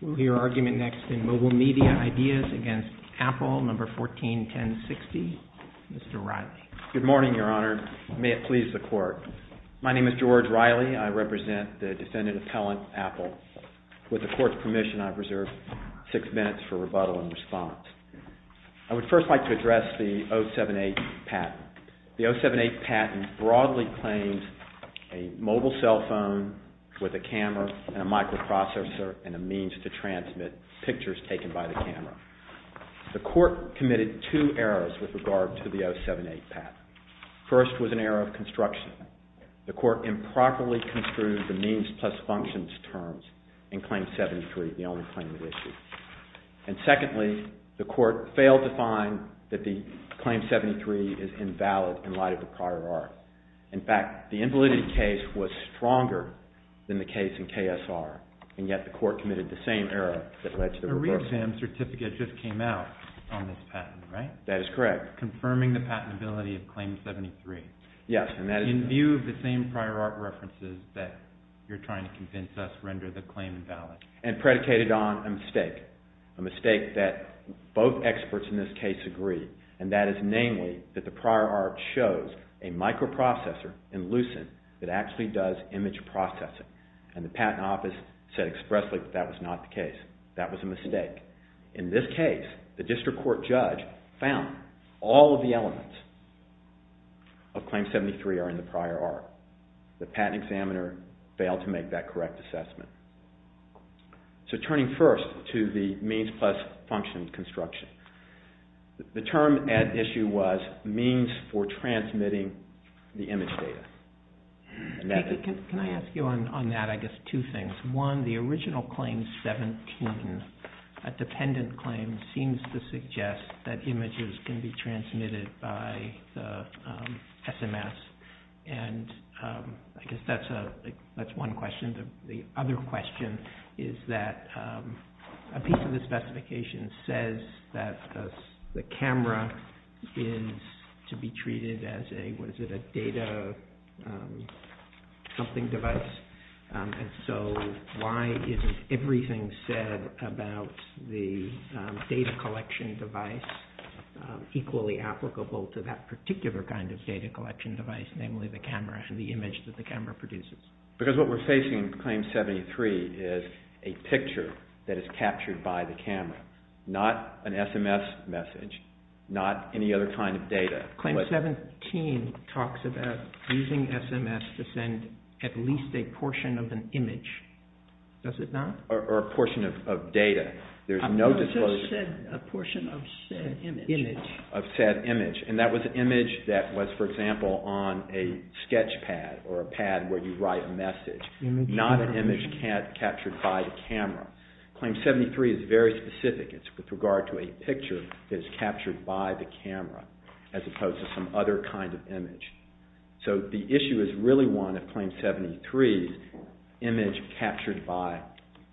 We'll hear argument next in Mobile Media Ideas against Apple, No. 14-1060. Mr. Reilly. Good morning, Your Honor. May it please the Court. My name is George Reilly. I represent the defendant appellant, Apple. With the Court's permission, I reserve six minutes for rebuttal and response. I would first like to address the 07-8 patent. The 07-8 patent broadly claims a mobile cell phone with a camera and a microprocessor and a means to transmit pictures taken by the camera. The Court committed two errors with regard to the 07-8 patent. First was an error of construction. The Court improperly construed the means plus functions terms in failed to find that the Claim 73 is invalid in light of the prior art. In fact, the invalidity case was stronger than the case in KSR, and yet the Court committed the same error that led to the reversal. A re-exam certificate just came out on this patent, right? That is correct. Confirming the patentability of Claim 73. Yes, and that is correct. In view of the same prior art references that you're trying to convince us render the claim invalid. And predicated on a mistake, a mistake that both experts in this case agree, and that is namely that the prior art shows a microprocessor in Lucent that actually does image processing. And the Patent Office said expressly that that was not the case. That was a mistake. In this case, the District Court judge found all of the elements of Claim 73 are in the error. So turning first to the means plus function construction. The term at issue was means for transmitting the image data. Can I ask you on that, I guess, two things. One, the original Claim 17, a dependent claim, seems to suggest that images can be transmitted by the SMS, and I guess that's one question. The other question is, does that mean that a piece of the specification says that the camera is to be treated as a, what is it, a data something device? And so why is everything said about the data collection device equally applicable to that particular kind of data collection device, namely the camera and the picture that is captured by the camera? Not an SMS message, not any other kind of data. Claim 17 talks about using SMS to send at least a portion of an image, does it not? Or a portion of data. There's no disclosure. A portion of said image. Of said image. And that was an image that was, for example, on a sketch pad or a pad where you write a message. Not an image captured by the camera. Claim 73 is very specific. It's with regard to a picture that is captured by the camera, as opposed to some other kind of image. So the issue is really one of Claim 73's image captured by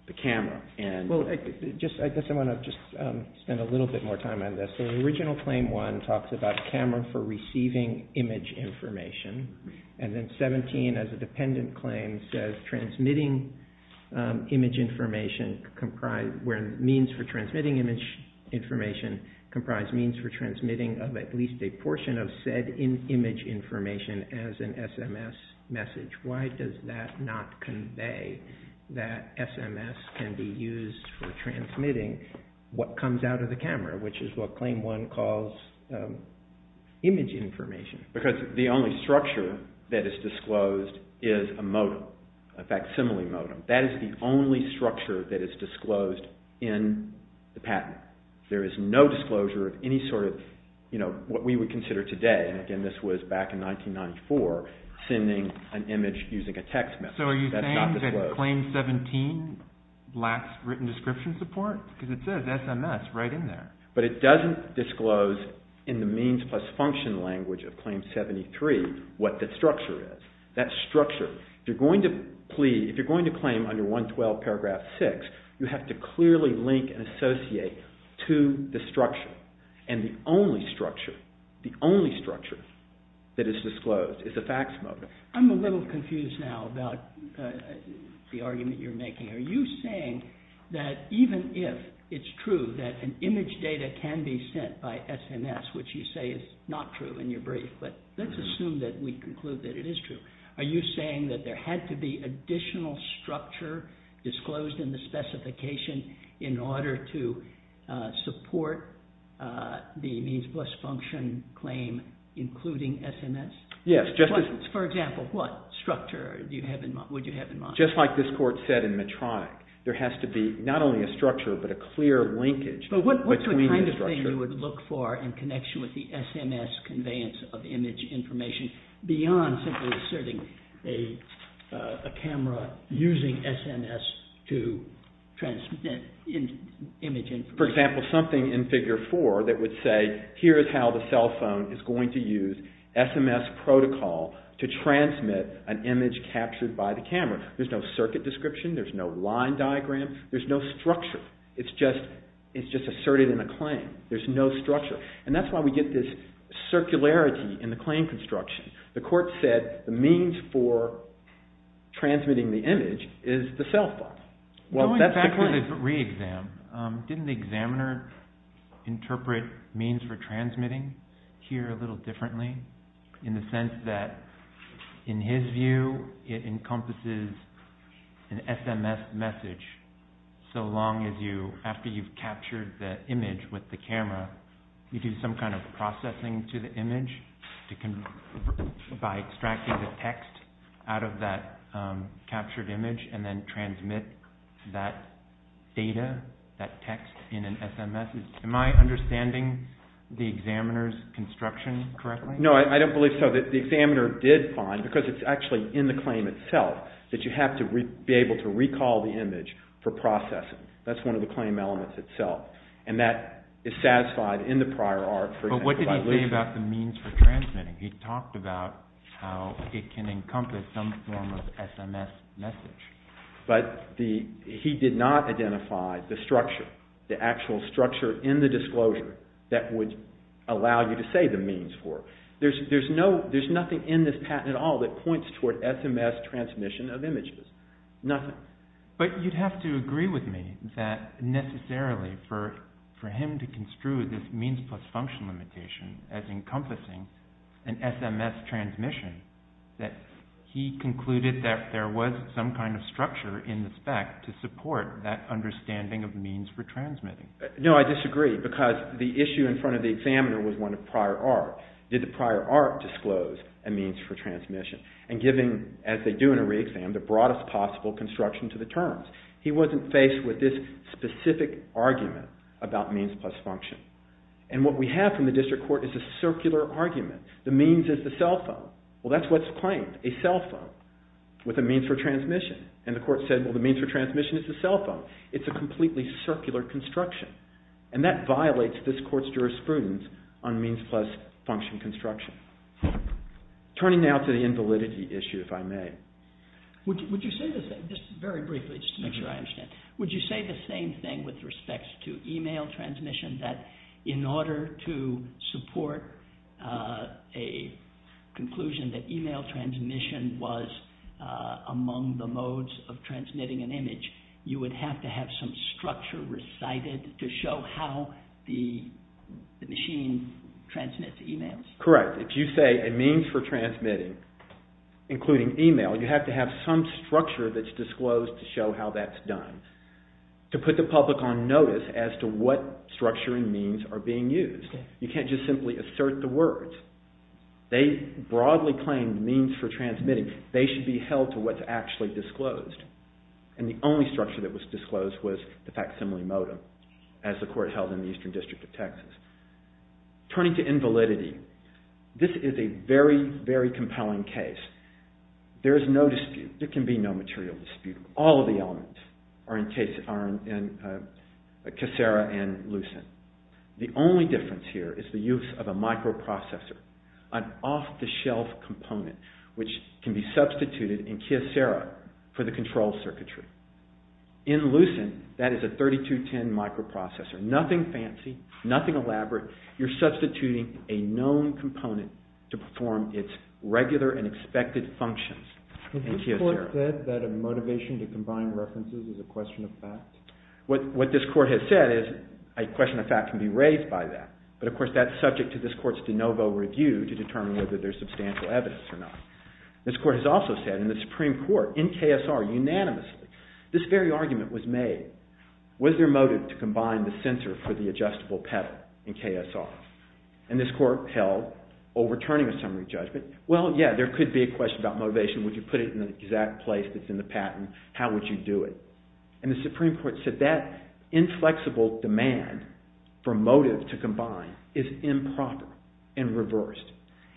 the camera. I guess I want to just spend a little bit more time on this. The original Claim 1 talks about a camera for receiving image information. And then 17, as a dependent claim, says means for transmitting image information comprise means for transmitting of at least a portion of said image information as an SMS message. Why does that not convey that SMS can be used for transmitting what comes out of the camera, which is what Claim 1 calls image information? Because the only structure that is disclosed is a modem. A facsimile modem. That is the only structure that is disclosed in the patent. There is no disclosure of any sort of, you know, what we would consider today, and again this was back in 1994, sending an image using a text message. That's not disclosed. Claim 17 lacks written description support because it says SMS right in there. But it doesn't disclose in the means plus function language of Claim 73 what the structure is. That structure, if you're going to claim under 112 paragraph 6, you have to clearly link and associate to the structure. And the only structure, the only structure that is disclosed is a facsimile. I'm a little confused now about the argument you're making. Are you saying that even if it's true that an image data can be sent by SMS, which you say is not true in your brief, but let's assume that we conclude that it is true, are you saying that there had to be additional structure disclosed in the specification in order to support the means plus function claim including SMS? Yes. For example, what structure would you have in mind? Just like this Court said in Medtronic, there has to be not only a structure but a clear linkage between the structure. But what kind of thing you would look for in connection with the SMS conveyance of image information beyond simply asserting a camera using SMS to transmit image information? For example, something in Figure 4 that would say, here is how the cell phone is going to use SMS protocol to transmit an image captured by the camera. There's no circuit description, there's no line diagram, there's no structure. It's just asserted in a claim. There's no structure. And that's why we get this circularity in the claim construction. The Court said the means for transmitting the image is the cell phone. Going back to the re-exam, didn't the examiner interpret means for transmitting here a little differently? In the sense that in his view, it encompasses an SMS message so long as you, after you've captured the image with the camera, you do some kind of processing to the image by extracting the text out of that captured image and then transmit that data, that text in an SMS. Am I understanding the examiner's construction correctly? No, I don't believe so. The examiner did find, because it's actually in the claim itself, that you have to be able to recall the image for processing. That's one of the claim elements itself. And that is satisfied in the prior art for example by Lewis. But what did he say about the means for transmitting? He talked about how it can encompass some form of SMS message. But he did not identify the structure, the actual structure in the disclosure that would allow you to say the means for it. There's nothing in this patent at all that points toward SMS transmission of images. Nothing. But you'd have to agree with me that necessarily for him to construe this means plus function limitation as encompassing an SMS transmission, that he concluded that there was some kind of structure in the spec to support that understanding of means for transmitting. No, I disagree because the issue in front of the examiner was one of prior art. Did the prior art disclose a means for transmission? And giving, as they do in a re-exam, the broadest possible construction to the terms. He wasn't faced with this specific argument about means plus function. And what we have from the district court is a circular argument. The means is a cell phone. Well, that's what's claimed, a cell phone with a means for transmission. And the court said, well, the means for transmission is a cell phone. It's a completely circular construction. And that violates this court's jurisprudence on means plus function construction. Turning now to the invalidity issue, if I may. Would you say the same, just very briefly, just to make sure I understand. Would you say the same thing with respect to email transmission, that in order to support an SMS transmission, conclusion that email transmission was among the modes of transmitting an image, you would have to have some structure recited to show how the machine transmits emails? Correct. If you say a means for transmitting, including email, you have to have some structure that's disclosed to show how that's done. To put the public on notice as to what structure and means are being used. You can't just simply assert the words. They broadly claimed means for transmitting. They should be held to what's actually disclosed. And the only structure that was disclosed was the facsimile modem, as the court held in the Eastern District of Texas. Turning to invalidity, this is a very, very compelling case. There is no dispute. There is no dispute. The only difference here is the use of a microprocessor, an off-the-shelf component, which can be substituted in Kyocera for the control circuitry. In Lucent, that is a 3210 microprocessor, nothing fancy, nothing elaborate. You're substituting a known component to perform its regular and expected functions in Kyocera. Has this court said that a motivation to combine references is a question of fact? What this court has said is a question of fact can be raised by that. But of course, that's subject to this court's de novo review to determine whether there's substantial evidence or not. This court has also said in the Supreme Court, in KSR unanimously, this very argument was made. Was there motive to combine the sensor for the adjustable pedal in KSR? And this court held, overturning a summary judgment, well, yeah, there could be a question about motivation. Would you put it in the exact place that's in the patent? How would you do it? And the Supreme Court said that inflexible demand for motive to combine is improper and reversed.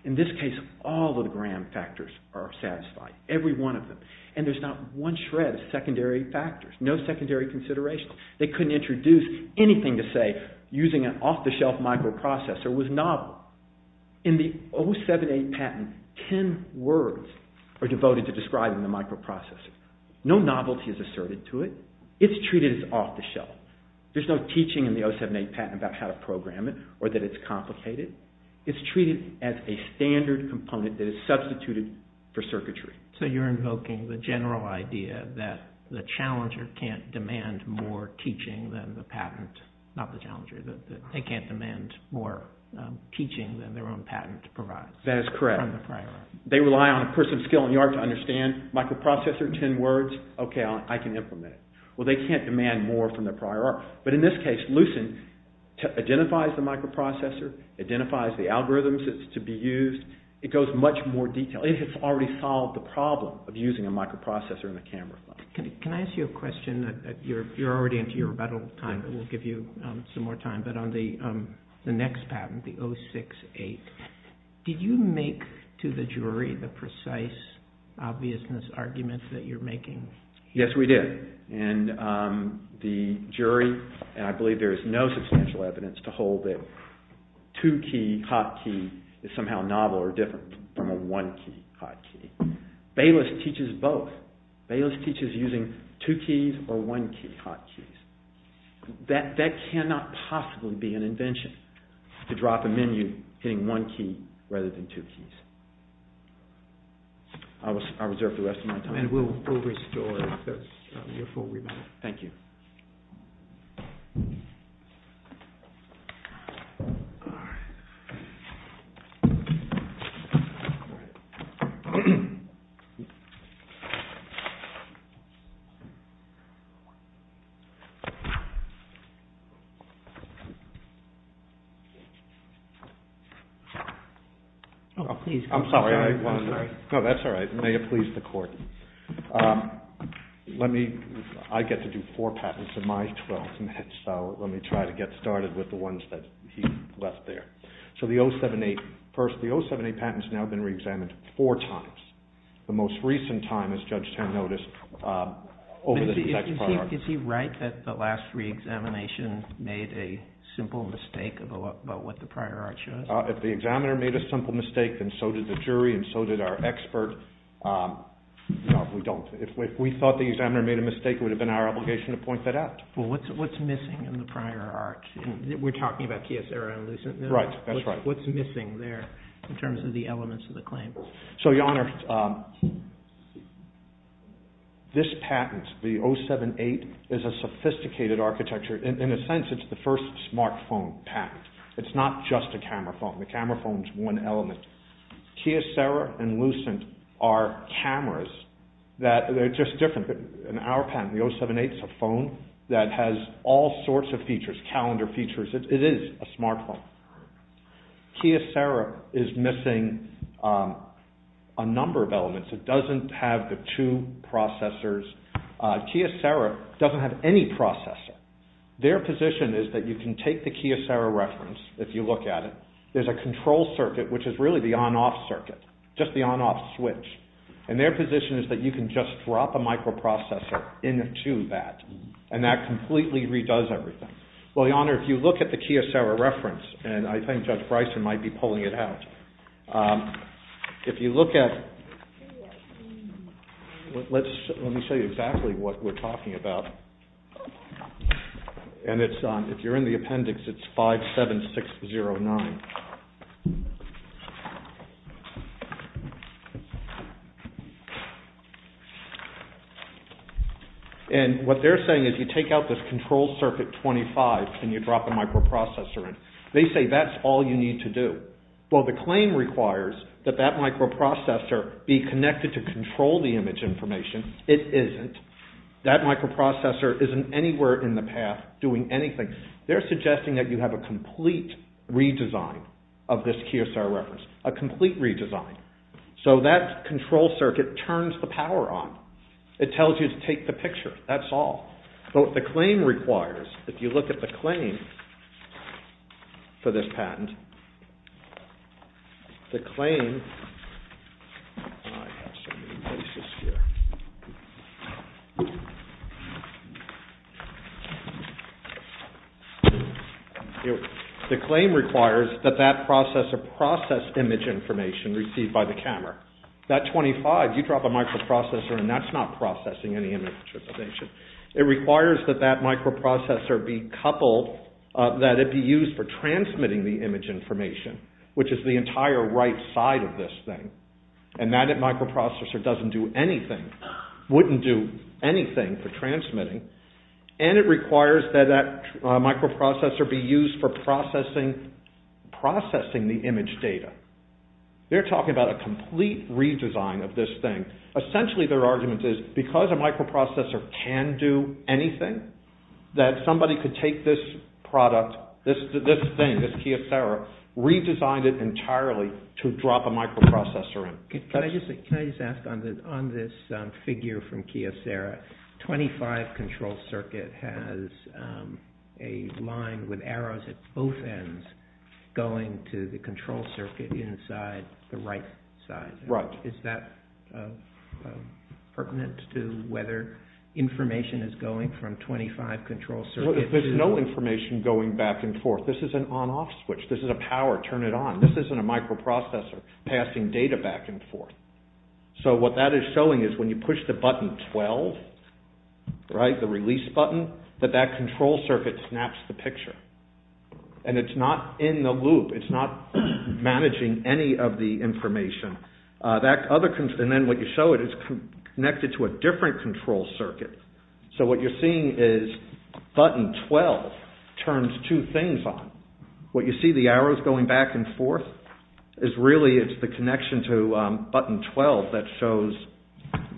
In this case, all of the gram factors are satisfied, every one of them. And there's not one shred of secondary factors, no secondary considerations. They couldn't introduce anything to say using an off-the-shelf microprocessor was novel. In the 078 patent, 10 words are added to it. It's treated as off-the-shelf. There's no teaching in the 078 patent about how to program it or that it's complicated. It's treated as a standard component that is substituted for circuitry. So you're invoking the general idea that the challenger can't demand more teaching than the patent, not the challenger, that they can't demand more teaching than their own patent provides. That is correct. They rely on a person's skill and the art to understand microprocessor, 10 words, okay, I can implement it. Well, they can't demand more from their prior art. But in this case, Lucent identifies the microprocessor, identifies the algorithms that's to be used. It goes much more detailed. It has already solved the problem of using a microprocessor in a camera. Can I ask you a question? You're already into your rebuttal time, but we'll give you some more time. But on the next patent, the 068, did you make to the jury the precise obviousness argument that you're making? Yes, we did. And the jury, and I believe there is no substantial evidence to hold that two-key hotkey is somehow novel or different from a one-key hotkey. Bayless teaches both. Bayless teaches using two-keys or one-key hotkeys. That cannot possibly be an invention, to drop a menu hitting one key rather than two keys. I reserve the rest of my time. And we'll restore your full rebuttal. Thank you. I'm sorry. May it please the Court. I get to do four patents in my 12 minutes, so let me try to get started with the ones that he left there. So the 078, first, the 078 patent has now been reexamined four times. The most recent time, as Judge Tan noticed, over the last reexamination, made a simple mistake about what the prior art should have been. If the examiner made a simple mistake, then so did the jury, and so did our expert. No, we don't. If we thought the examiner made a mistake, it would have been our obligation to point that out. Well, what's missing in the prior art? We're talking about kiosks that are illicit. Right, that's right. What's missing there, in terms of the elements of the claim? Your Honor, this patent, the 078, is a sophisticated architecture. In a sense, it's the first smartphone patent. It's not just a camera phone. The camera phone is one element. Kiosera and Lucent are cameras that are just different. In our patent, the 078 is a phone that has all sorts of features, calendar features. It is a smartphone. Kiosera is missing a number of elements. It doesn't have the two processors. Kiosera doesn't have any processor. Their position is that you can take the Kiosera reference, if you look at it. There's a control circuit, which is really the on-off circuit, just the on-off switch. Their position is that you can just drop a microprocessor into that, and that completely redoes everything. Well, Your Honor, if you look at the Kiosera reference, and I think Judge Bryson might be pulling it out. If you look at, let me show you exactly what we're talking about. And if you're in the appendix, it's 57609. And if you're in the appendix, it's 57609. And what they're saying is you take out this control circuit 25, and you drop a microprocessor in. They say that's all you need to do. Well, the claim requires that that microprocessor be connected to control the image information. It isn't. That microprocessor isn't anywhere in the path doing anything. They're suggesting that you have a complete redesign of this It tells you to take the picture. That's all. But what the claim requires, if you look at the claim for this patent, the claim requires that that processor process image information received by the camera. That 25, you drop a microprocessor, and that's not processing any image information. It requires that that microprocessor be coupled, that it be used for transmitting the image information, which is the entire right side of this thing. And that microprocessor doesn't do anything, wouldn't do anything for transmitting. And it requires that that microprocessor be used for processing the image data. They're talking about a complete redesign of this thing. Essentially, their argument is because a microprocessor can do anything, that somebody could take this product, this thing, this Kyocera, redesign it entirely to drop a microprocessor in. Can I just ask, on this figure from Kyocera, 25 control circuit has a microprocessor. A line with arrows at both ends going to the control circuit inside the right side. Right. Is that pertinent to whether information is going from 25 control circuits? There's no information going back and forth. This is an on-off switch. This is a power, turn it on. This isn't a microprocessor passing data back and forth. So what that is showing is when you push the button 12, right, the release button, that that control circuit snaps the picture. And it's not in the loop. It's not managing any of the information. And then what you show it is connected to a different control circuit. So what you're seeing is button 12 turns two things on. What you see, the arrows going back and forth, is really it's the connection to button 12 that shows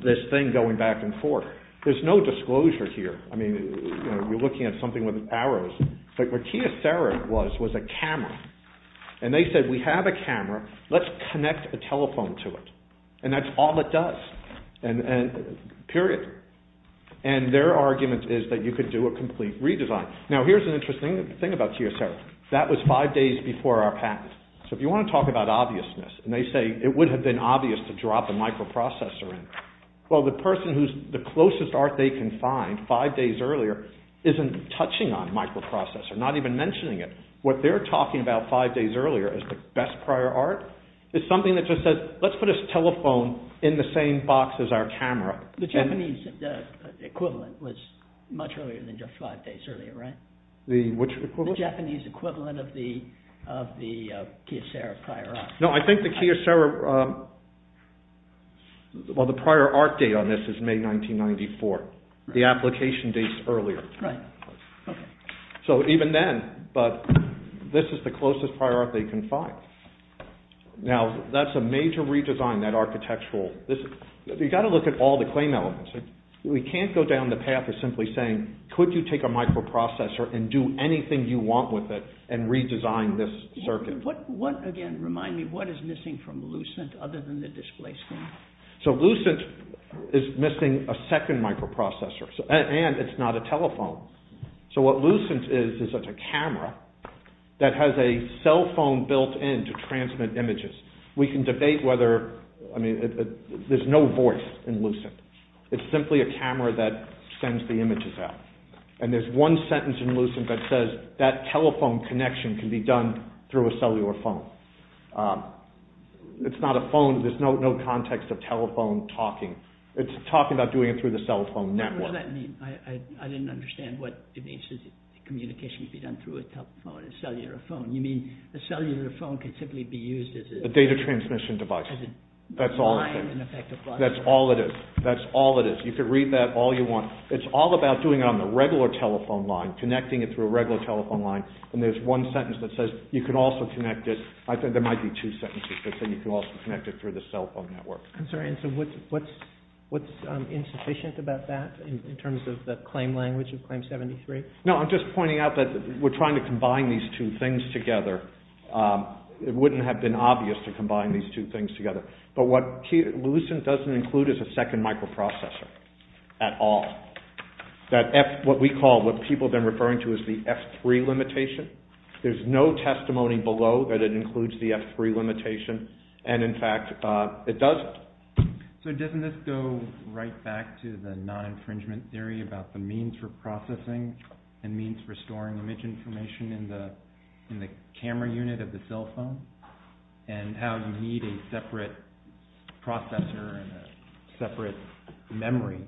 this thing going back and forth. There's no disclosure here. I mean, you're looking at something with arrows. But what Kyocera was, was a camera. And they said, we have a camera. Let's connect a telephone to it. And that's all it does. Period. And their argument is that you could do a complete redesign. Now here's an interesting thing about Kyocera. That was five days before our patent. So if you want to talk about obviousness, and they say it would have been obvious to drop the microprocessor in. Well, the person who's the closest art they can find five days earlier isn't touching on microprocessor, not even mentioning it. What they're talking about five days earlier is the best prior art. It's something that just says, let's put this telephone in the same box as our camera. The Japanese equivalent was much earlier than just five days earlier, right? The which equivalent? The Japanese equivalent of the Kyocera prior art. No, I think the Kyocera, well, the prior art date on this is May 1994. The application dates earlier. So even then, but this is the closest prior art they can find. Now, that's a major redesign, that architectural. You've got to look at all the claim elements. We can't go down the path of simply saying, could you take a microprocessor and do anything you want with it, and redesign this circuit. What, again, remind me, what is missing from Lucent other than the display screen? So Lucent is missing a second microprocessor, and it's not a telephone. So what Lucent is, is it's a camera that has a cell phone built in to transmit images. We can debate whether, I mean, there's no voice in Lucent. It's simply a camera that sends the images out. And there's one sentence in Lucent that says, that telephone connection can be done through a cellular phone. It's not a phone. There's no context of telephone talking. It's talking about doing it through the cell phone network. What does that mean? I didn't understand what it means to say that communication can be done through a telephone, a cellular phone. You mean, a cellular phone can simply be used as a... A data transmission device. As a line, in effect, across... That's all it is. That's all it is. You can read that all you want. It's all about doing it on the regular telephone line, connecting it through a regular telephone line. And there's one sentence that says, you can also connect it, I think there might be two sentences that say you can also connect it through the cell phone network. I'm sorry, and so what's insufficient about that in terms of the claim language of Claim 73? No, I'm just pointing out that we're trying to combine these two things together. It wouldn't have been obvious to combine these two things together. But what Lucent doesn't include is a second microprocessor at all. That F, what we call, what people have been referring to as the F3 limitation. There's no testimony below that it includes the F3 limitation. And in fact, it doesn't. So doesn't this go right back to the non-infringement theory about the means for processing and means for storing image information in the camera unit of the cell phone? And how you need a separate processor and a separate memory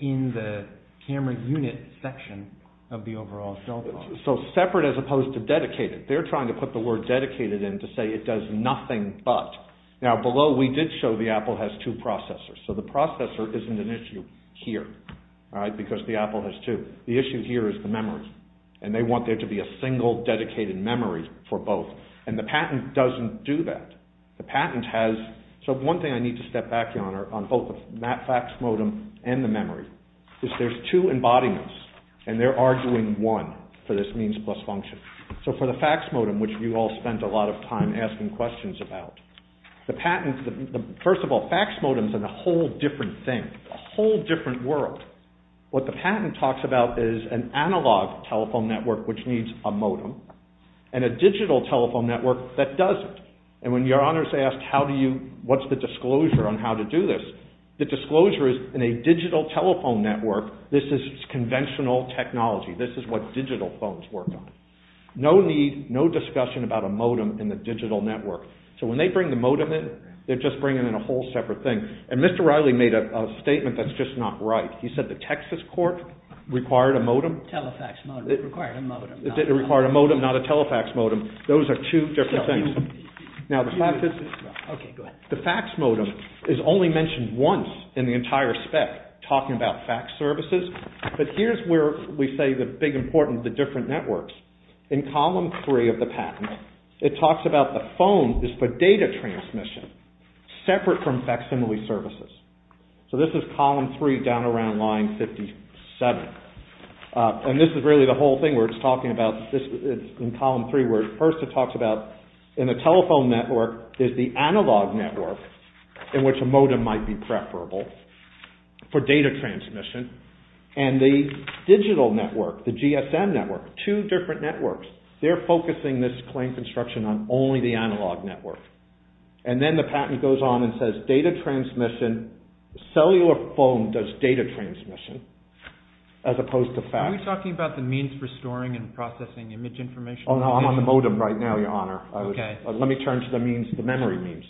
in the camera unit section of the overall cell phone. So separate as opposed to dedicated. They're trying to put the word dedicated in to say it does nothing but. Now below we did show the Apple has two processors. So the processor isn't an issue here, because the Apple has two. The issue here is the memory. And they want there to be a single dedicated memory for both. And the patent doesn't do that. The patent has, so one thing I need to step back on, on both the fax modem and the memory, is there's two embodiments. And they're arguing one for this means plus function. So for the fax modem, which you all spent a lot of time asking questions about, the patent, first of all, fax modems are a whole different thing, a whole different world. What the patent talks about is an analog telephone network which needs a modem, and a digital telephone network that doesn't. And when your honors asked how do you, what's the disclosure on how to do this, the disclosure is in a digital telephone network, this is conventional technology. This is what digital phones work on. No need, no discussion about a modem in the digital network. So when they bring the modem in, they're just bringing in a whole separate thing. And Mr. Riley made a statement that's just not right. He said the Texas court required a modem, required a modem, not a telefax modem. Those are two different things. Now, the fax modem is only mentioned once in the entire spec, talking about fax services. But here's where we say the big importance of the different networks. In column three of the patent, it talks about the phone is for data transmission, separate from facsimile services. So this is column three down around line 57. And this is really the whole thing where it's talking about, it's in column three where it first talks about in a telephone network is the analog network in which a modem might be preferable for data transmission and the digital network, the GSM network, two different networks. They're focusing this claim construction on only the analog network. And then the patent goes on and says data transmission, cellular phone does data transmission as opposed to fax. Are we talking about the means for storing and processing image information? Oh, no. I'm on the modem right now, your honor. Let me turn to the memory means.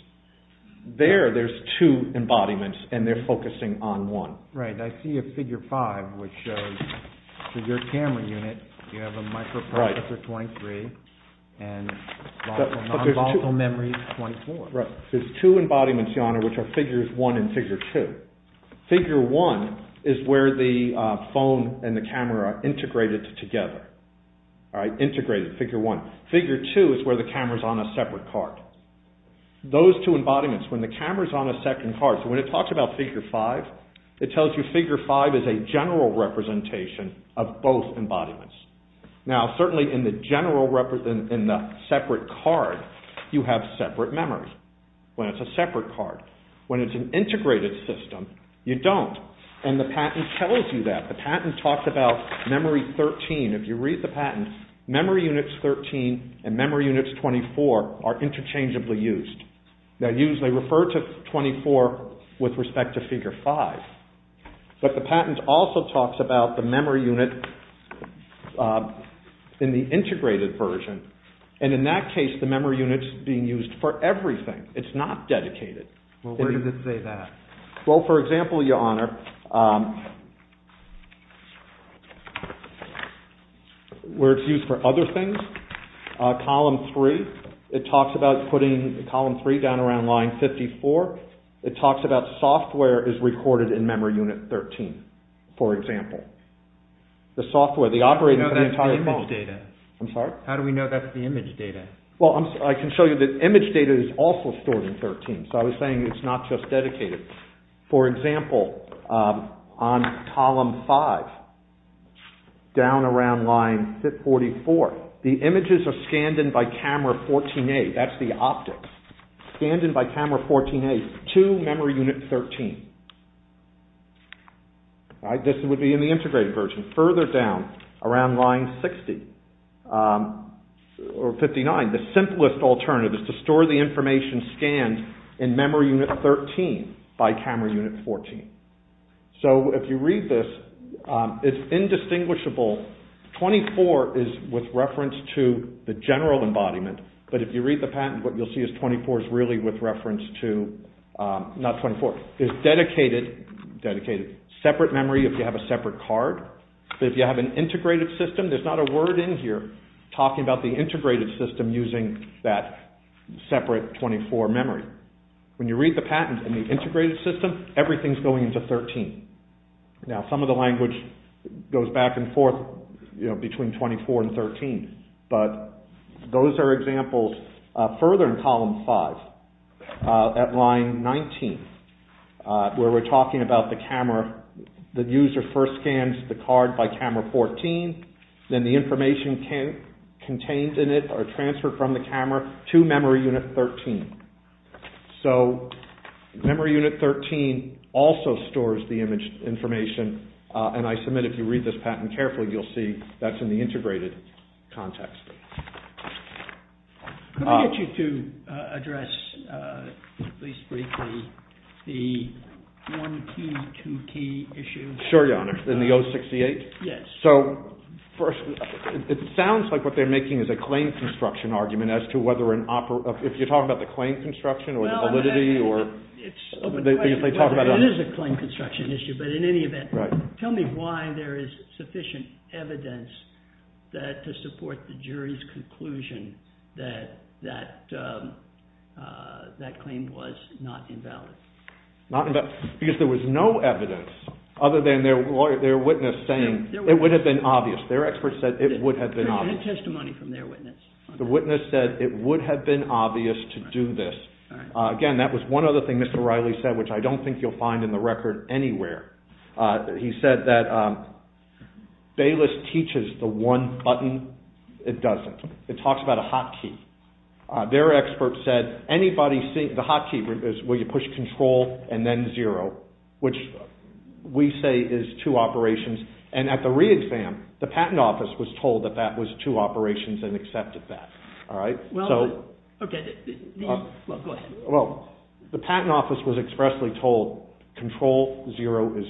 There, there's two embodiments and they're focusing on one. Right. I see a figure five, which is your camera unit. You have a microprocessor 23 and nonvolatile memory 24. Right. There's two embodiments, your honor, which are figures one and figure two. Figure one is where the phone and the camera are integrated together. All right. Integrated, figure one. Figure two is where the camera's on a separate card. Those two embodiments, when the camera's on a second card, so when it talks about figure five, it tells you figure five is a general representation of both embodiments. Now, certainly in the general represent, in the separate card, you have separate memories. When it's a separate card. When it's an integrated system, you don't. And the patent tells you that. The patent talks about memory 13. If you read the patent, memory units 13 and memory units 24 are interchangeably used. They're used, they refer to 24 with respect to figure five. But the patent also talks about the memory unit in the integrated version. And in that case, the memory unit's being used for everything. It's not dedicated. Well, where does it say that? Well, for example, your honor, where it's used for other things, column three, it talks about putting column three down around line 54. It talks about software is recorded in memory unit 13, for example. The software, the operator of the entire phone. How do we know that's the image data? Well, I can show you that image data is also stored in 13. So, I was saying it's not just dedicated. For example, on column five, down around line 44, the images are scanned in by camera 14A. That's the optics. Scanned in by camera 14A to memory unit 13. This would be in the integrated version. Further down, around line 59, the simplest alternative is to store the information scanned in memory unit 13 by camera unit 14. So, if you read this, it's indistinguishable. 24 is with reference to the general embodiment, but if you read the patent, what you'll see is 24 is really with reference to, not 24, is dedicated, separate memory if you have a separate card. If you have an integrated system, there's not a word in here talking about the integrated system using that separate 24 memory. When you read the patent in the integrated system, everything's going into 13. Now, some of the language goes back and forth between 24 and 13, but those are examples further in column five at line 19 where we're talking about the camera. The user first scans the card by camera 14, then the information contained in it are transferred from the camera to memory unit 13. So, that memory unit 13 also stores the image information, and I submit if you read this patent carefully, you'll see that's in the integrated context. Can I get you to address, at least briefly, the 1Q2T issue? Sure, Your Honor. In the 068? Yes. So, first, it sounds like what they're making is a claim construction argument as to whether an operative, if you're talking about the claim construction or validity, or if they talk about a... It is a claim construction issue, but in any event, tell me why there is sufficient evidence to support the jury's conclusion that that claim was not invalid. Because there was no evidence other than their witness saying it would have been obvious. Their expert said it would have been obvious. There's no testimony from their witness. The witness said it would have been obvious to do this. Again, that was one other thing Mr. Riley said, which I don't think you'll find in the record anywhere. He said that Bayless teaches the one button, it doesn't. It talks about a hotkey. Their expert said anybody seeing the hotkey is where you push control and then zero, which we say is two operations, and at the re-exam, the patent office was told that that was two operations and accepted that. Well, go ahead. The patent office was expressly told control zero is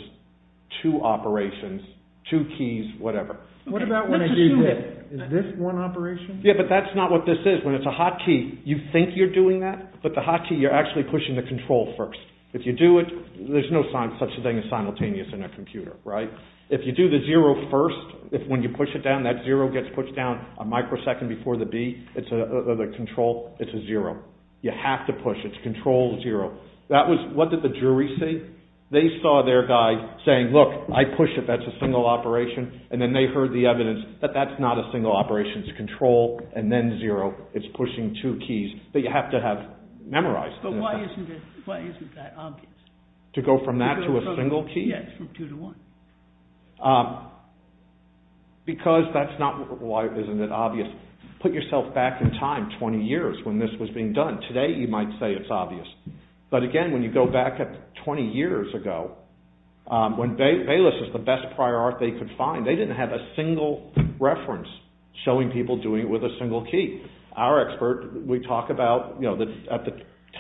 two operations, two keys, whatever. What about when I do this? Is this one operation? Yeah, but that's not what this is. When it's a hotkey, you think you're doing that, but the hotkey, you're actually pushing the control first. If you do it, there's no such a thing as simultaneous in a computer. If you do the zero first, when you push it down, that zero gets pushed down a microsecond before the B, it's a control, it's a zero. You have to push. It's control zero. What did the jury say? They saw their guy saying, look, I push it, that's a single operation, and then they heard the evidence that that's not a single operation. It's control and then zero. It's pushing two keys that you have to have memorized. But why isn't that obvious? To go from that to a single key? Yes, from two to one. Because that's not why isn't it obvious. Put yourself back in time 20 years when this was being done. Today, you might say it's obvious. But again, when you go back 20 years ago, when Bayless was the best prior art they could find, they didn't have a single reference showing people doing it with a single key. Our expert, we talk about at the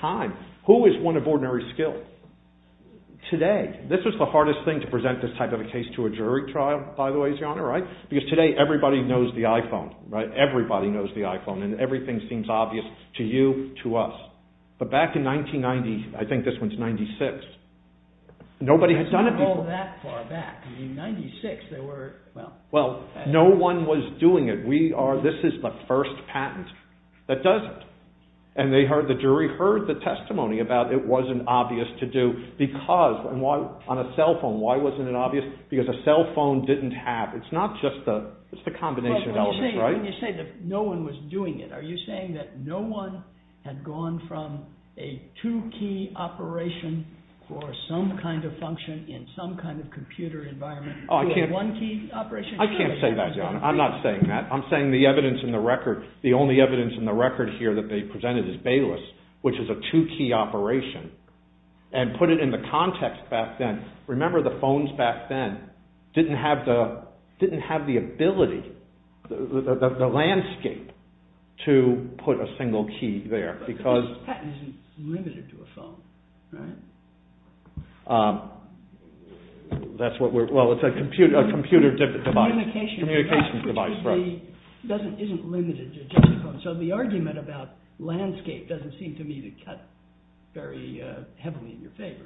time, who is one of ordinary skill? Today, this is the hardest thing to present this type of a case to a jury trial, by the way, Your Honor, right? Because today, everybody knows the iPhone, right? Everybody knows the iPhone and everything seems obvious to you, to us. But back in 1990, I think this was in 96, nobody had done it before. It's not all that far back. In 96, there were, well. Well, no one was doing it. We are, this is the first patent that does it. And they heard the jury, heard the testimony about it wasn't obvious to do. Because, on a cell phone, why wasn't it obvious? Because a cell phone didn't have, it's not just the, it's the combination of elements, right? When you say that no one was doing it, are you saying that no one had gone from a two key operation for some kind of function in some kind of computer environment to a one key operation? I can't say that, Your Honor. I'm not saying that. I'm saying the evidence in the record, the only evidence in the record here that they presented is Bayless, which is a two key operation, and put it in the context back then. Remember, the phones back then didn't have the, didn't have the ability, the landscape, to put a single key there, because. But the patent isn't limited to a phone, right? That's what we're, well, it's a computer, a computer device, communication device, right. But the patent isn't limited to a telephone, so the argument about landscape doesn't seem to me to cut very heavily in your favor.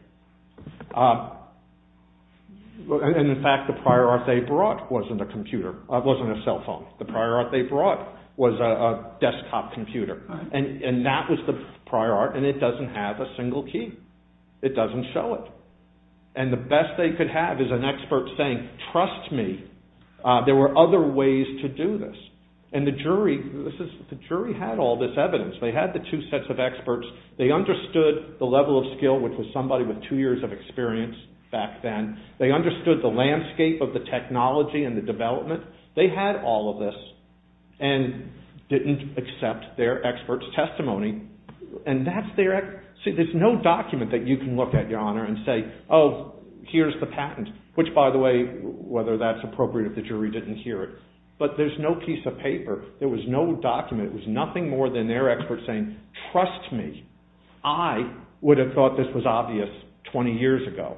And, in fact, the prior art they brought wasn't a computer, wasn't a cell phone. The prior art they brought was a desktop computer, and that was the prior art, and it doesn't have a single key. It doesn't show it. And the best they could have is an expert saying, trust me, there were other ways to do this. And the jury, the jury had all this evidence. They had the two sets of experts. They understood the level of skill, which was somebody with two years of experience back then. They understood the landscape of the technology and the development. They had all of this, and didn't accept their expert's testimony. And that's their, see, there's no document that you can look at, Your Honor, and say, oh, here's the patent, which, by the way, whether that's appropriate if the jury didn't hear it. But there's no piece of paper. There was no document. It was nothing more than their expert saying, trust me, I would have thought this was obvious 20 years ago.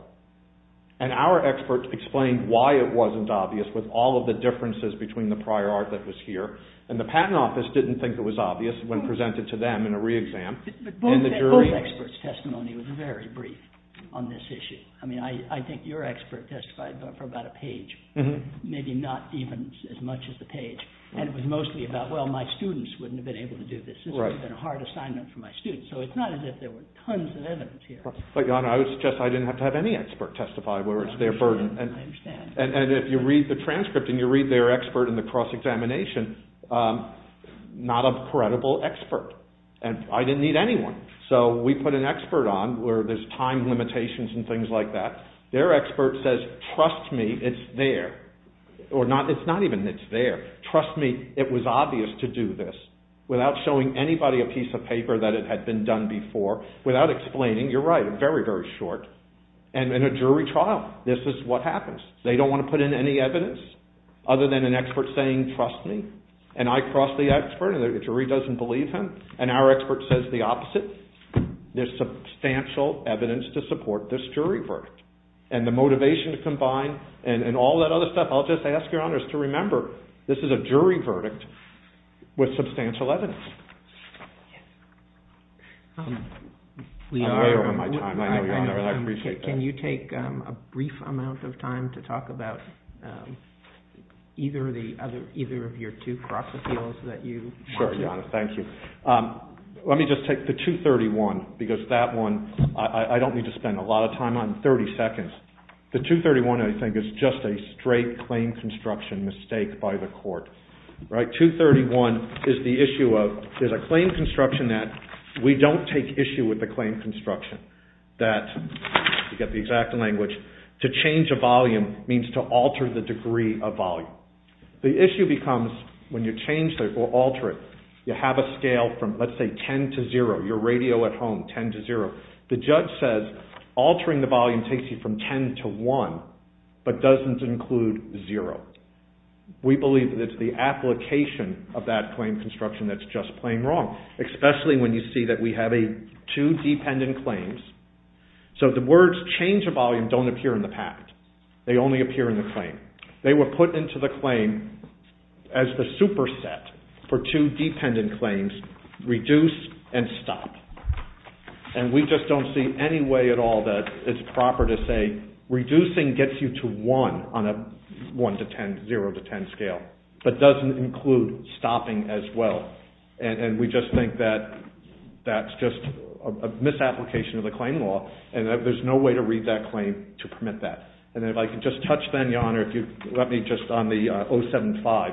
And our experts explained why it wasn't obvious with all of the differences between the prior art that was here, and the Patent Office didn't think it was obvious when presented to them in a re-exam. But both experts' testimony was very brief on this issue. I mean, I think your expert testified for about a page, maybe not even as much as the page. And it was mostly about, well, my students wouldn't have been able to do this. This would have been a hard assignment for my students. So it's not as if there were tons of evidence here. But, Your Honor, I would suggest I didn't have to have any expert testify, where it's their burden. I understand. And if you read the transcript and you read their expert in the cross-examination, not a credible expert. And I didn't need anyone. So we put an expert on where there's time limitations and things like that. Their expert says, trust me, it's there. Or not, it's not even it's there. Trust me, it was obvious to do this. Without showing anybody a piece of paper that it had been done before. Without explaining, you're right, very, very short. And in a jury trial, this is what happens. They don't want to put in any evidence other than an expert saying, trust me. And I cross the expert and the jury doesn't believe him. And our expert says the opposite. There's substantial evidence to support this jury verdict. And the motivation to combine and all that other stuff, I'll just ask, Your Honor, is to remember, this is a jury verdict with substantial evidence. I don't have my time. I know, Your Honor, and I appreciate that. Can you take a brief amount of time to talk about either of the other, either of your two cross-appeals that you... Sure, Your Honor, thank you. Let me just take the 231, because that one, I don't need to spend a lot of time on, 30 seconds. The 231, I think, is just a straight claim construction mistake by the court. Right? 231 is the issue of, there's a claim construction that we don't take issue with the claim construction. That, to get the exact language, to change a volume means to alter the degree of volume. The issue becomes, when you change or alter it, you have a scale from, let's say, 10 to 0, your radio at home, 10 to 0. The judge says, altering the volume takes you from 10 to 1, but doesn't include 0. We believe that it's the application of that claim construction that's just plain wrong, especially when you see that we have a two dependent claims. So, the words change of volume don't appear in the patent. They only appear in the claim. They were put into the claim as the superset for two dependent claims, reduce and stop. We just don't see any way at all that it's proper to say, reducing gets you to 1 on a 1 to 10, 0 to 10 scale, but doesn't include stopping as well. We just think that that's just a misapplication of the claim law, and that there's no way to read that claim to permit that. If I could just touch then, Your Honor, if you'd let me just on the 075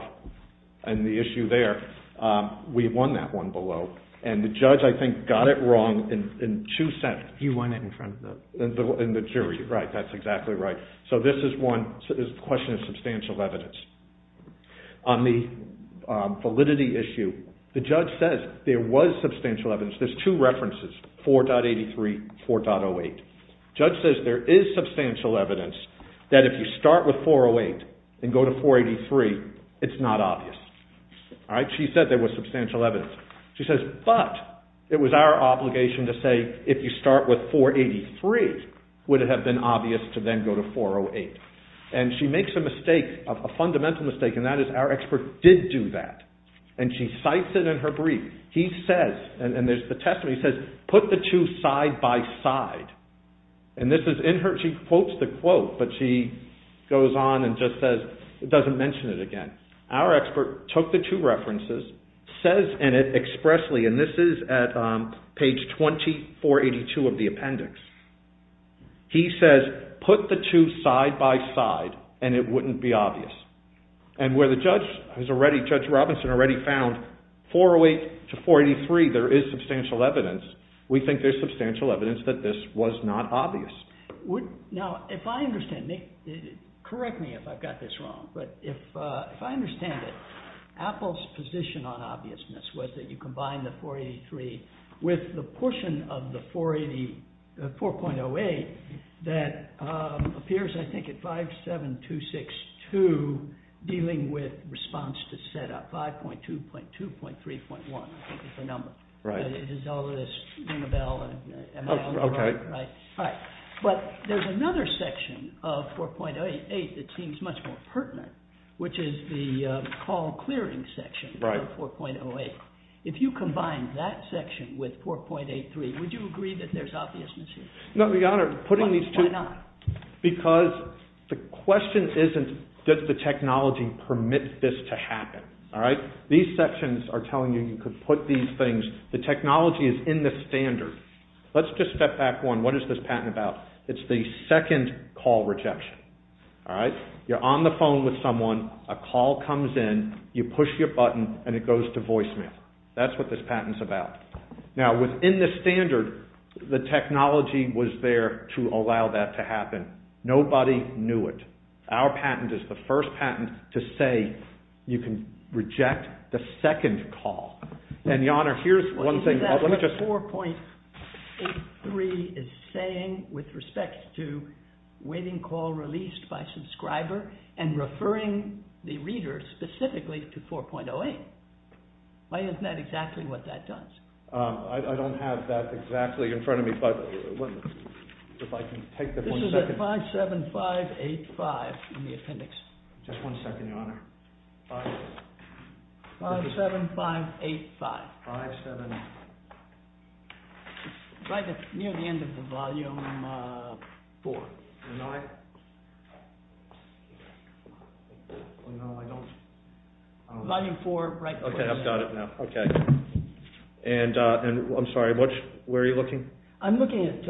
and the issue there, we won that one below. The judge, I think, got it wrong in two sentences. You won it in front of the... In the jury, right. That's exactly right. So, this is one question of substantial evidence. On the validity issue, the judge says there was substantial evidence. There's two references, 4.83 and 4.08. The judge says there is substantial evidence that if you start with 4.08 and go to 4.83, it's not obvious. She said there was substantial evidence. She says, but, it was our obligation to say, if you start with 4.83, would it have been obvious to then go to 4.08? And she makes a mistake, a fundamental mistake, and that is our expert did do that. And she cites it in her brief. He says, and there's the testimony, he says, put the two side by side. And this is in her, she quotes the quote, but she goes on and just says, doesn't mention it again. Our expert took the two references, says in it expressly, and this is at page 2482 of the appendix. He says, put the two side by side, and it wouldn't be obvious. And where the judge has already, Judge Robinson, has already found 4.08 to 4.83, there is substantial evidence, we think there's substantial evidence that this was not obvious. Now, if I understand, correct me if I've got this wrong, but if I understand it, Apple's position on obviousness was that you combine the 4.83 with the portion of the 4.08 that appears, I think, at 57262 dealing with response to set up, 5.2, .2, .3, .1, I think is the number. Right. It is all of this, Unabell, and Amal, right, but there's another section of 4.08 that seems much more pertinent, which is the call clearing section of 4.08. If you combine that section with 4.83, would you agree that there's obviousness here? No, Your Honor, putting these two... Why not? Because the question isn't, does the technology permit this to happen, all right? These sections are telling you you could put these things, the technology is in the standard. Let's just step back one. What is this patent about? It's the second call rejection, all right? You're on the phone with someone, a call comes in, you push your button, and it goes to voicemail. That's what this patent's about. Now, within the standard, the technology was there to allow that to happen. Nobody knew it. Our patent is the first patent to say you can reject the second call. And, Your Honor, here's one thing... 4.83 is saying, with respect to waiting call released by subscriber, and referring the reader specifically to 4.08. Isn't that exactly what that does? I don't have that exactly in front of me, but if I can take the point... This is at 57585 in the appendix. Just one second, Your Honor. 57585. 57585. Near the end of the volume 4. Volume 4, right? Okay, I've got it now. Okay. And, I'm sorry, where are you looking? I'm looking at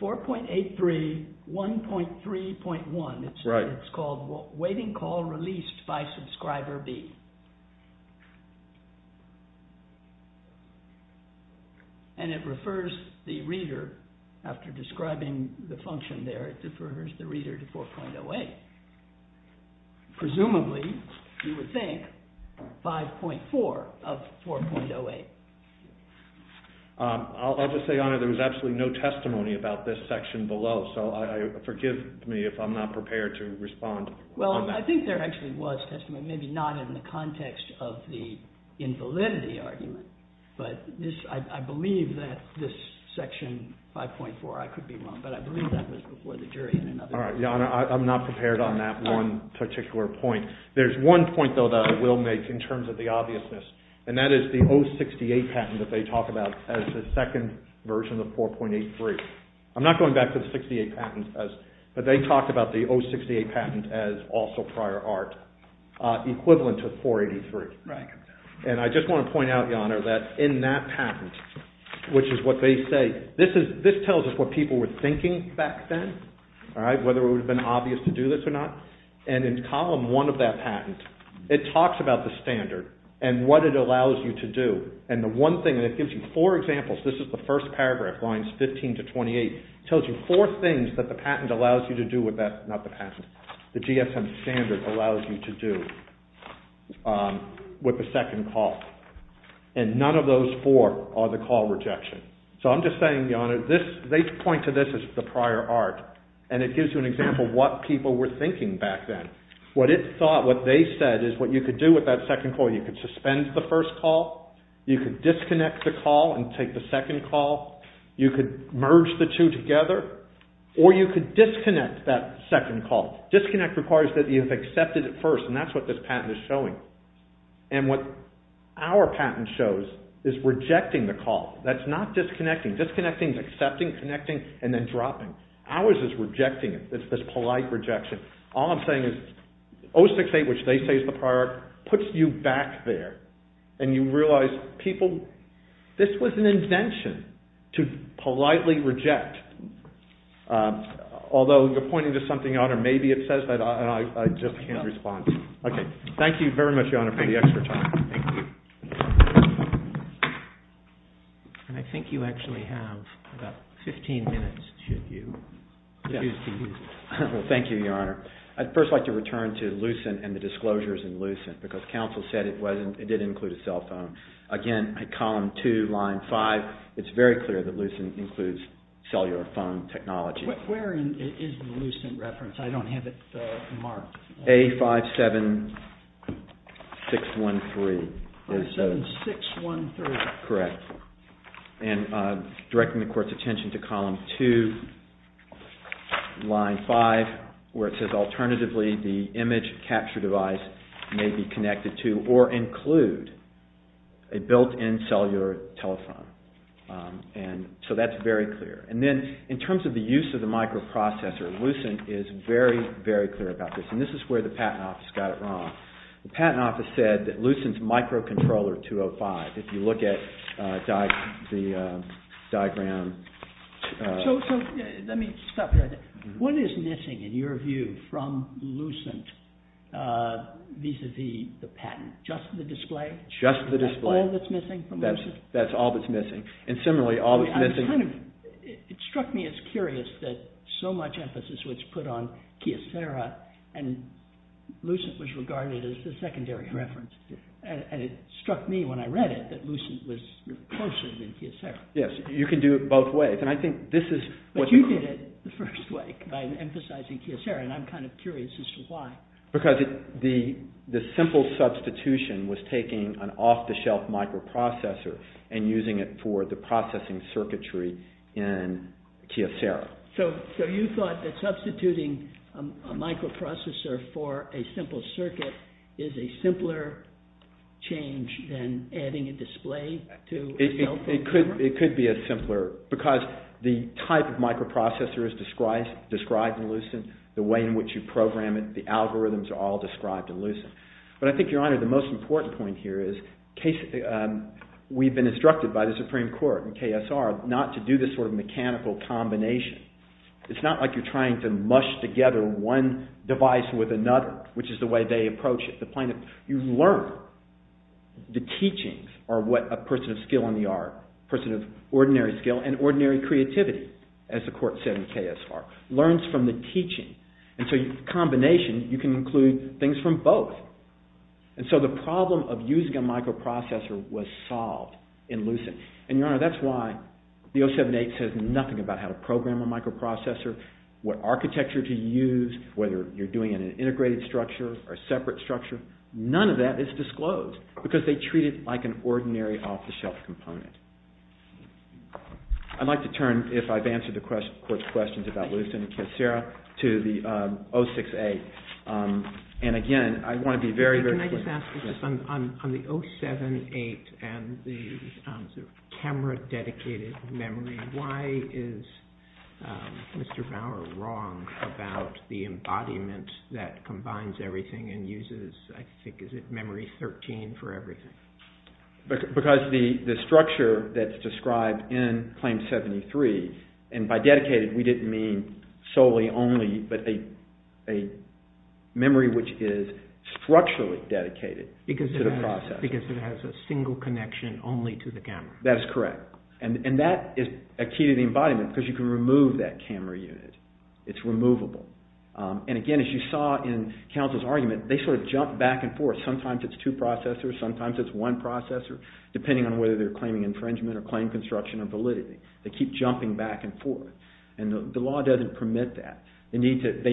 4.83, 1.3.1. Right. It's called Waiting Call Released by Subscriber B. And it refers the reader, after describing the function there, it refers the reader to 4.08. Presumably, you would think 5.4 of 4.08. I'll just say, Your Honor, there was absolutely no testimony about this section below, so forgive me if I'm not prepared to respond. Well, I think there actually was testimony, maybe not in the context of the invalidity argument, but I believe that this section 5.4, I could be wrong, but I believe that was before the jury in another case. All right, Your Honor, I'm not prepared on that one particular point. There's one point, though, that I will make in terms of the obviousness, and that is the 068 patent that they talk about as the second version of 4.83. I'm not going back to the 068 patent, but they talked about the 068 patent as also prior art, equivalent to 4.83. Right. And I just want to point out, Your Honor, that in that patent, which is what they say, this tells us what people were thinking back then, whether it would have been obvious to do this or not. And in Column 1 of that patent, it talks about the standard and what it allows you to do. And the one thing, and it gives you four examples. This is the first paragraph, lines 15 to 28. It tells you four things that the patent allows you to do with that. Not the patent. The GSM standard allows you to do with the second call. And none of those four are the call rejection. So I'm just saying, Your Honor, they point to this as the prior art, and it gives you an example of what people were thinking back then. What it thought, what they said, is what you could do with that second call. You could suspend the first call. You could disconnect the call and take the second call. You could merge the two together. Or you could disconnect that second call. Disconnect requires that you have accepted it first, and that's what this patent is showing. And what our patent shows is rejecting the call. That's not disconnecting. Disconnecting is accepting, connecting, and then dropping. Ours is rejecting it. It's this polite rejection. All I'm saying is 068, which they say is the prior art, puts you back there. And you realize people, this was an intention to politely reject. Although you're pointing to something, Your Honor, maybe it says that, and I just can't respond. Okay. Thank you very much, Your Honor, for the extra time. Thank you. And I think you actually have about 15 minutes, should you choose to use it. Thank you, Your Honor. I'd first like to return to Lucent and the disclosures in Lucent, because counsel said it did include a cell phone. Again, at column 2, line 5, it's very clear that Lucent includes cellular phone technology. Where is the Lucent reference? I don't have it marked. A57613. A57613. Correct. And directing the Court's attention to column 2, line 5, where it says alternatively the image capture device may be connected to or include a built-in cellular telephone. And so that's very clear. And then in terms of the use of the microprocessor, Lucent is very, very clear about this. And this is where the Patent Office got it wrong. The Patent Office said that Lucent's microcontroller 205, if you look at the diagram. So let me stop you there. What is missing, in your view, from Lucent vis-à-vis the patent? Just the display? Just the display. That's all that's missing from Lucent? That's all that's missing. And similarly, all that's missing... It struck me as curious that so much emphasis was put on Kyocera and Lucent was regarded as the secondary reference. And it struck me when I read it that Lucent was closer than Kyocera. Yes, you can do it both ways. And I think this is... But you did it the first way by emphasizing Kyocera and I'm kind of curious as to why. Because the simple substitution was taking an off-the-shelf microprocessor and using it for the processing circuitry in Kyocera. So you thought that substituting a microprocessor for a simple circuit is a simpler change than adding a display to a cell phone? It could be a simpler... Because the type of microprocessor is described in Lucent, the way in which you program it, the algorithms are all described in Lucent. But I think, Your Honour, the most important point here is we've been instructed by the Supreme Court and KSR not to do this sort of mechanical combination. It's not like you're trying to mush together one device with another, which is the way they approach it. You learn. The teachings are what a person of skill in the art, a person of ordinary skill and ordinary creativity, as the court said in KSR, learns from the teaching. And so in combination, you can include things from both. And so the problem of using a microprocessor was solved in Lucent. And, Your Honour, that's why the 07-8 says nothing about how to program a microprocessor, what architecture to use, whether you're doing an integrated structure or a separate structure. None of that is disclosed, because they treat it like an ordinary off-the-shelf component. I'd like to turn, if I've answered the court's questions about Lucent and KSR, to the 06-8. And again, I want to be very, very clear. Can I just ask, on the 07-8 and the camera-dedicated memory, why is Mr. Bauer wrong about the embodiment that combines everything and uses, I think, is it memory 13 for everything? Because the structure that's described in Claim 73, and by dedicated, we didn't mean solely, only, but a memory which is structurally dedicated to the processor. Because it has a single connection only to the camera. That is correct. And that is a key to the embodiment, because you can remove that camera unit. It's removable. And again, as you saw in counsel's argument, they sort of jump back and forth. Sometimes it's two processors, sometimes it's one processor, depending on whether they're claiming infringement or claim construction or validity. They keep jumping back and forth. And the law doesn't permit that. They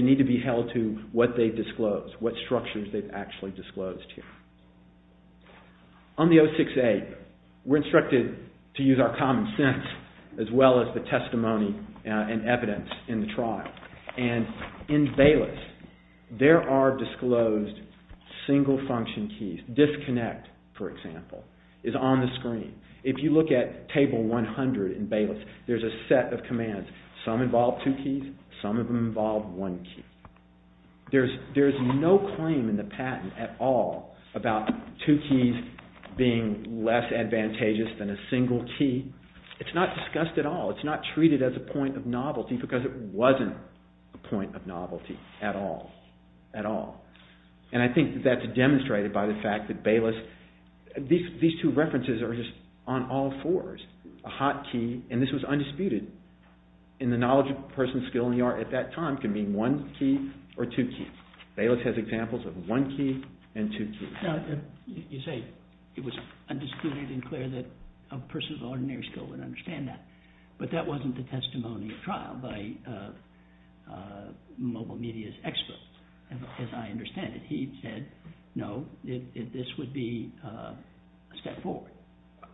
need to be held to what they've disclosed, what structures they've actually disclosed here. On the 068, we're instructed to use our common sense as well as the testimony and evidence in the trial. And in Bayless, there are disclosed single function keys. Disconnect, for example, is on the screen. If you look at Table 100 in Bayless, there's a set of commands. Some involve two keys, some of them involve one key. There's no claim in the patent at all about two keys being less advantageous than a single key. It's not discussed at all. It's not treated as a point of novelty because it wasn't a point of novelty at all, at all. And I think that's demonstrated by the fact that Bayless... These two references are just on all fours. A hot key, and this was undisputed, in the knowledge of a person's skill in the art at that time, can mean one key or two keys. Bayless has examples of one key and two keys. Now, you say it was undisputed and clear that a person's ordinary skill would understand that, but that wasn't the testimony of trial by mobile media's experts, as I understand it. He said, no, this would be a step forward.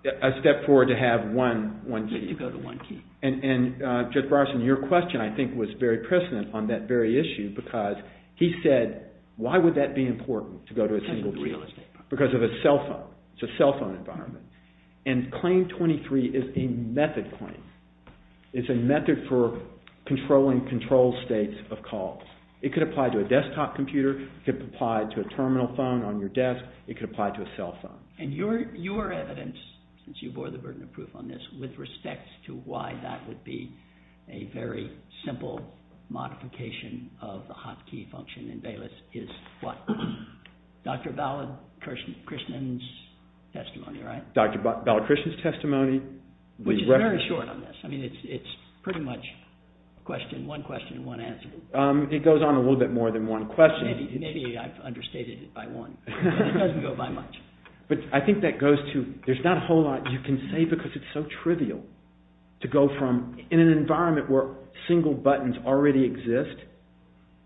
A step forward to have one key. To go to one key. And Judge Bronson, your question, I think, was very precedent on that very issue because he said, why would that be important to go to a single key? Because of the real estate part. Because of a cell phone. It's a cell phone environment. And Claim 23 is a method claim. It's a method for controlling controlled states of calls. It could apply to a desktop computer. It could apply to a terminal phone on your desk. It could apply to a cell phone. And your evidence, since you bore the burden of proof on this, with respect to why that would be a very simple modification of the hot key function in Bayless is what? Dr. Balakrishnan's testimony, right? Dr. Balakrishnan's testimony. Which is very short on this. I mean, it's pretty much one question and one answer. It goes on a little bit more than one question. Maybe I've understated it by one. It doesn't go by much. But I think that goes to, there's not a whole lot you can say because it's so trivial to go from in an environment where single buttons already exist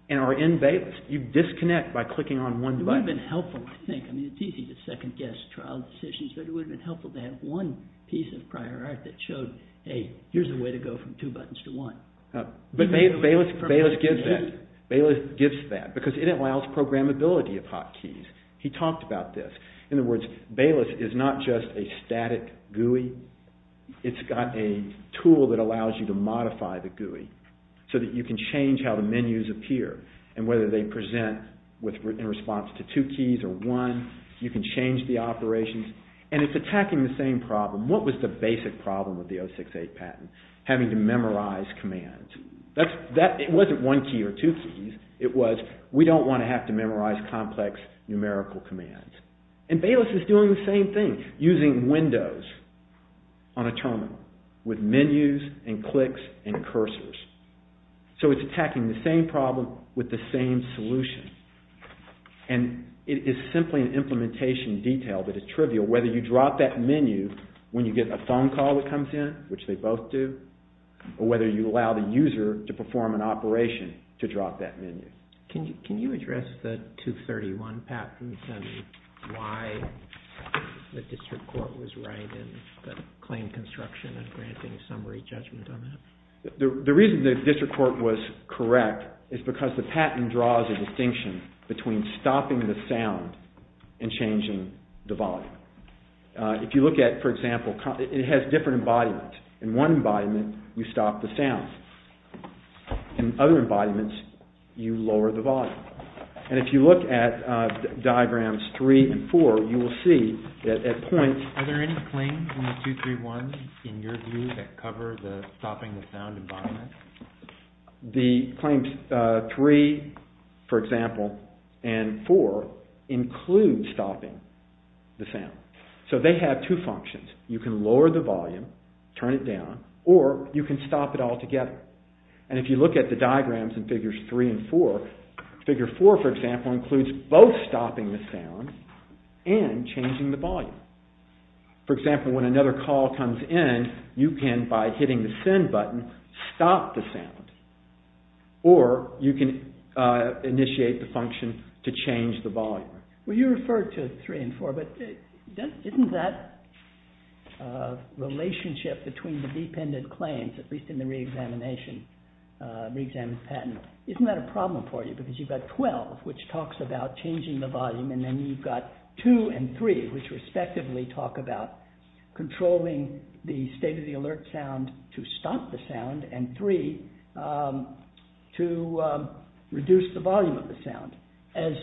and are in Bayless. You disconnect by clicking on one button. It would have been helpful, I think. I mean, it's easy to second guess trial decisions. But it would have been helpful to have one piece of prior art that showed, hey, here's a way to go from two buttons to one. But Bayless gives that. Bayless gives that. Because it allows programmability of hot keys. He talked about this. In other words, Bayless is not just a static GUI. It's got a tool that allows you to modify the GUI so that you can change how the menus appear and whether they present in response to two keys or one. You can change the operations. And it's attacking the same problem. What was the basic problem of the 068 patent? Having to memorize commands. It wasn't one key or two keys. It was, we don't want to have to memorize complex numerical commands. And Bayless is doing the same thing using Windows. On a terminal. With menus and clicks and cursors. So it's attacking the same problem with the same solution. And it is simply an implementation detail that is trivial whether you drop that menu when you get a phone call that comes in, which they both do, or whether you allow the user to perform an operation to drop that menu. Can you address the 231 patent and why the district court was right in the claim construction and granting summary judgment on that? The reason the district court was correct is because the patent draws a distinction between stopping the sound and changing the volume. If you look at, for example, it has different embodiments. In one embodiment, you stop the sound. In other embodiments, you lower the volume. And if you look at diagrams 3 and 4, you will see that at points... Are there any claims on the 231 in your view that cover the stopping the sound embodiment? The claims 3, for example, and 4 include stopping the sound. So they have two functions. You can lower the volume, turn it down, or you can stop it altogether. And if you look at the diagrams in figures 3 and 4, figure 4, for example, includes both stopping the sound and changing the volume. For example, when another call comes in, you can, by hitting the send button, stop the sound. Or you can initiate the function to change the volume. Well, you referred to 3 and 4, but isn't that relationship between the dependent claims, at least in the re-examination patent, isn't that a problem for you? Because you've got 12, which talks about changing the volume, and then you've got 2 and 3, which respectively talk about controlling the state of the alert sound to stop the sound, and 3 to reduce the volume of the sound, as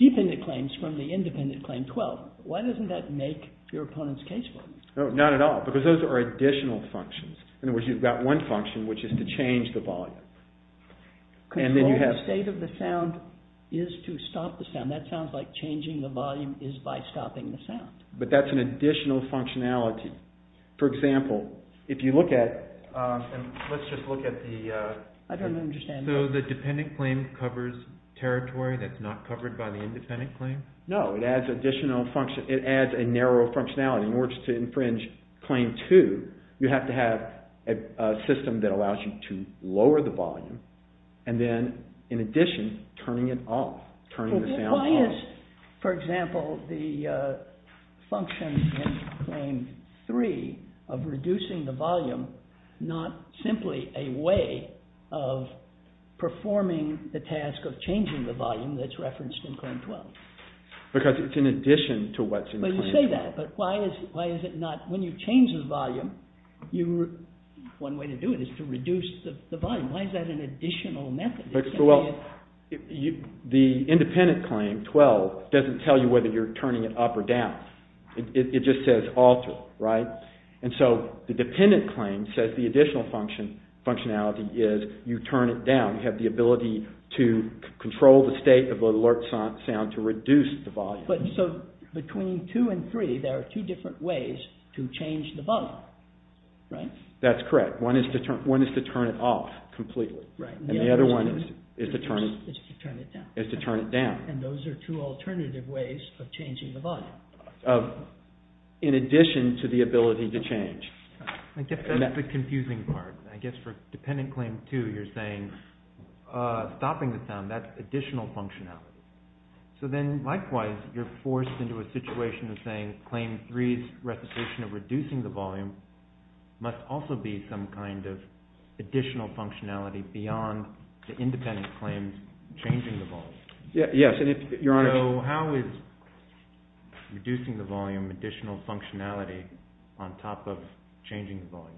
dependent claims from the independent claim 12. Why doesn't that make your opponents caseful? No, not at all, because those are additional functions. In other words, you've got one function, which is to change the volume. Control the state of the sound is to stop the sound. That sounds like changing the volume is by stopping the sound. But that's an additional functionality. For example, if you look at... Let's just look at the... I don't understand. So the dependent claim covers territory that's not covered by the independent claim? No, it adds a narrow functionality. In order to infringe claim 2, you have to have a system that allows you to lower the volume, and then, in addition, turning it off, turning the sound off. Why is, for example, the function in claim 3 of reducing the volume not simply a way of performing the task of changing the volume that's referenced in claim 12? Because it's in addition to what's in claim 12. But you say that, but why is it not... When you change the volume, one way to do it is to reduce the volume. Why is that an additional method? Well, the independent claim 12 doesn't tell you whether you're turning it up or down. It just says alter, right? And so the dependent claim says the additional functionality is you turn it down. You have the ability to control the state of the alert sound to reduce the volume. So between 2 and 3, there are two different ways to change the volume. Right? That's correct. One is to turn it off completely. Right. And the other one is to turn it down. And those are two alternative ways of changing the volume. In addition to the ability to change. I guess that's the confusing part. I guess for dependent claim 2, you're saying stopping the sound, that's additional functionality. So then, likewise, you're forced into a situation of saying claim 3's representation of reducing the volume must also be some kind of additional functionality beyond the independent claim changing the volume. Yes. So how is reducing the volume additional functionality on top of changing the volume?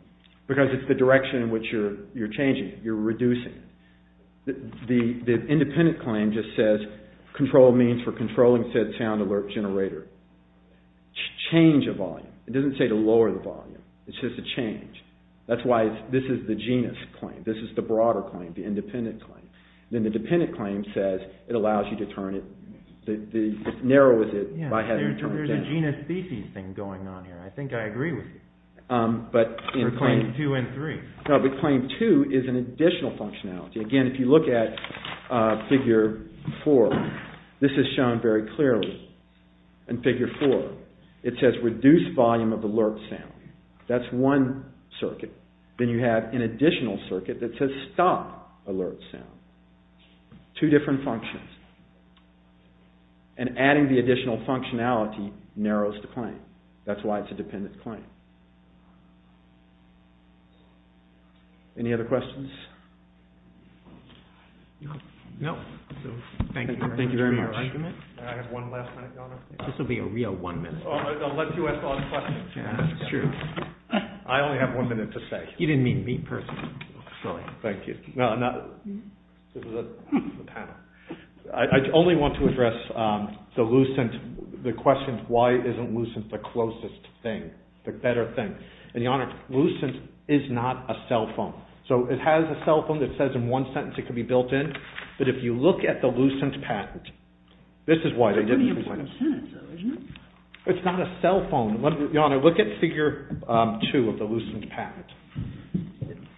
Because it's the direction in which you're changing. You're reducing. The independent claim just says control means for controlling said sound alert generator. Change a volume. It doesn't say to lower the volume. It says to change. That's why this is the genus claim. This is the broader claim, the independent claim. Then the dependent claim says it allows you to turn it, it narrows it by having to turn it down. There's a genus-species thing going on here. I think I agree with you. For claim 2 and 3. No, but claim 2 is an additional functionality. Again, if you look at figure 4, this is shown very clearly in figure 4. It says reduce volume of alert sound. That's one circuit. Then you have an additional circuit that says stop alert sound. Two different functions. And adding the additional functionality narrows the claim. That's why it's a dependent claim. Any other questions? No. Thank you. Thank you very much. I have one last minute, Governor. This will be a real one minute. I'll let you ask all the questions. That's true. I only have one minute to say. You didn't mean me personally. Sorry. Thank you. I only want to address the Lucent, the question why isn't Lucent the closest thing, the better thing. And your Honor, Lucent is not a cell phone. So it has a cell phone that says in one sentence it can be built in, but if you look at the Lucent patent, this is why the jury didn't present it. It's not a cell phone. Your Honor, look at figure two of the Lucent patent.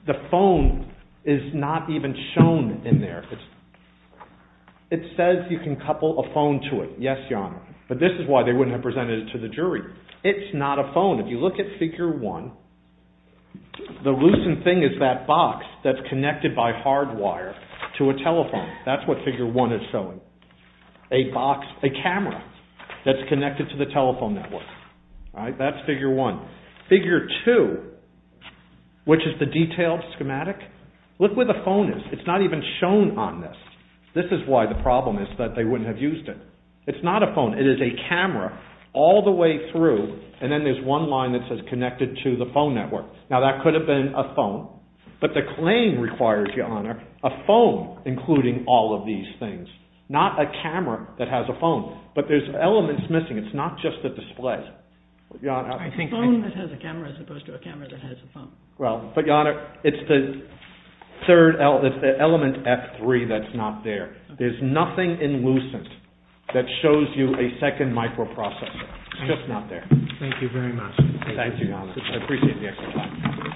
The phone is not even shown in there. It says you can couple a phone to it. Yes, Your Honor. But this is why they wouldn't have presented it to the jury. It's not a phone. the Lucent thing is that box that's connected by hard wire to a telephone. That's what figure one is showing. A box, a camera that's connected to the telephone network. That's figure one. Figure two, which is the detailed schematic, look where the phone is. It's not even shown on this. This is why the problem is that they wouldn't have used it. It's not a phone. It is a camera all the way through and then there's one line that says connected to the phone network. Now that could have been a phone, but the claim requires, Your Honor, a phone including all of these things. Not a camera that has a phone. But there's elements missing. It's not just the display. A phone that has a camera as opposed to a camera that has a phone. But, Your Honor, it's the third element, F3, that's not there. There's nothing in Lucent that shows you a second microprocessor. It's just not there. Thank you very much. Thank you, Your Honor. I appreciate the explanation.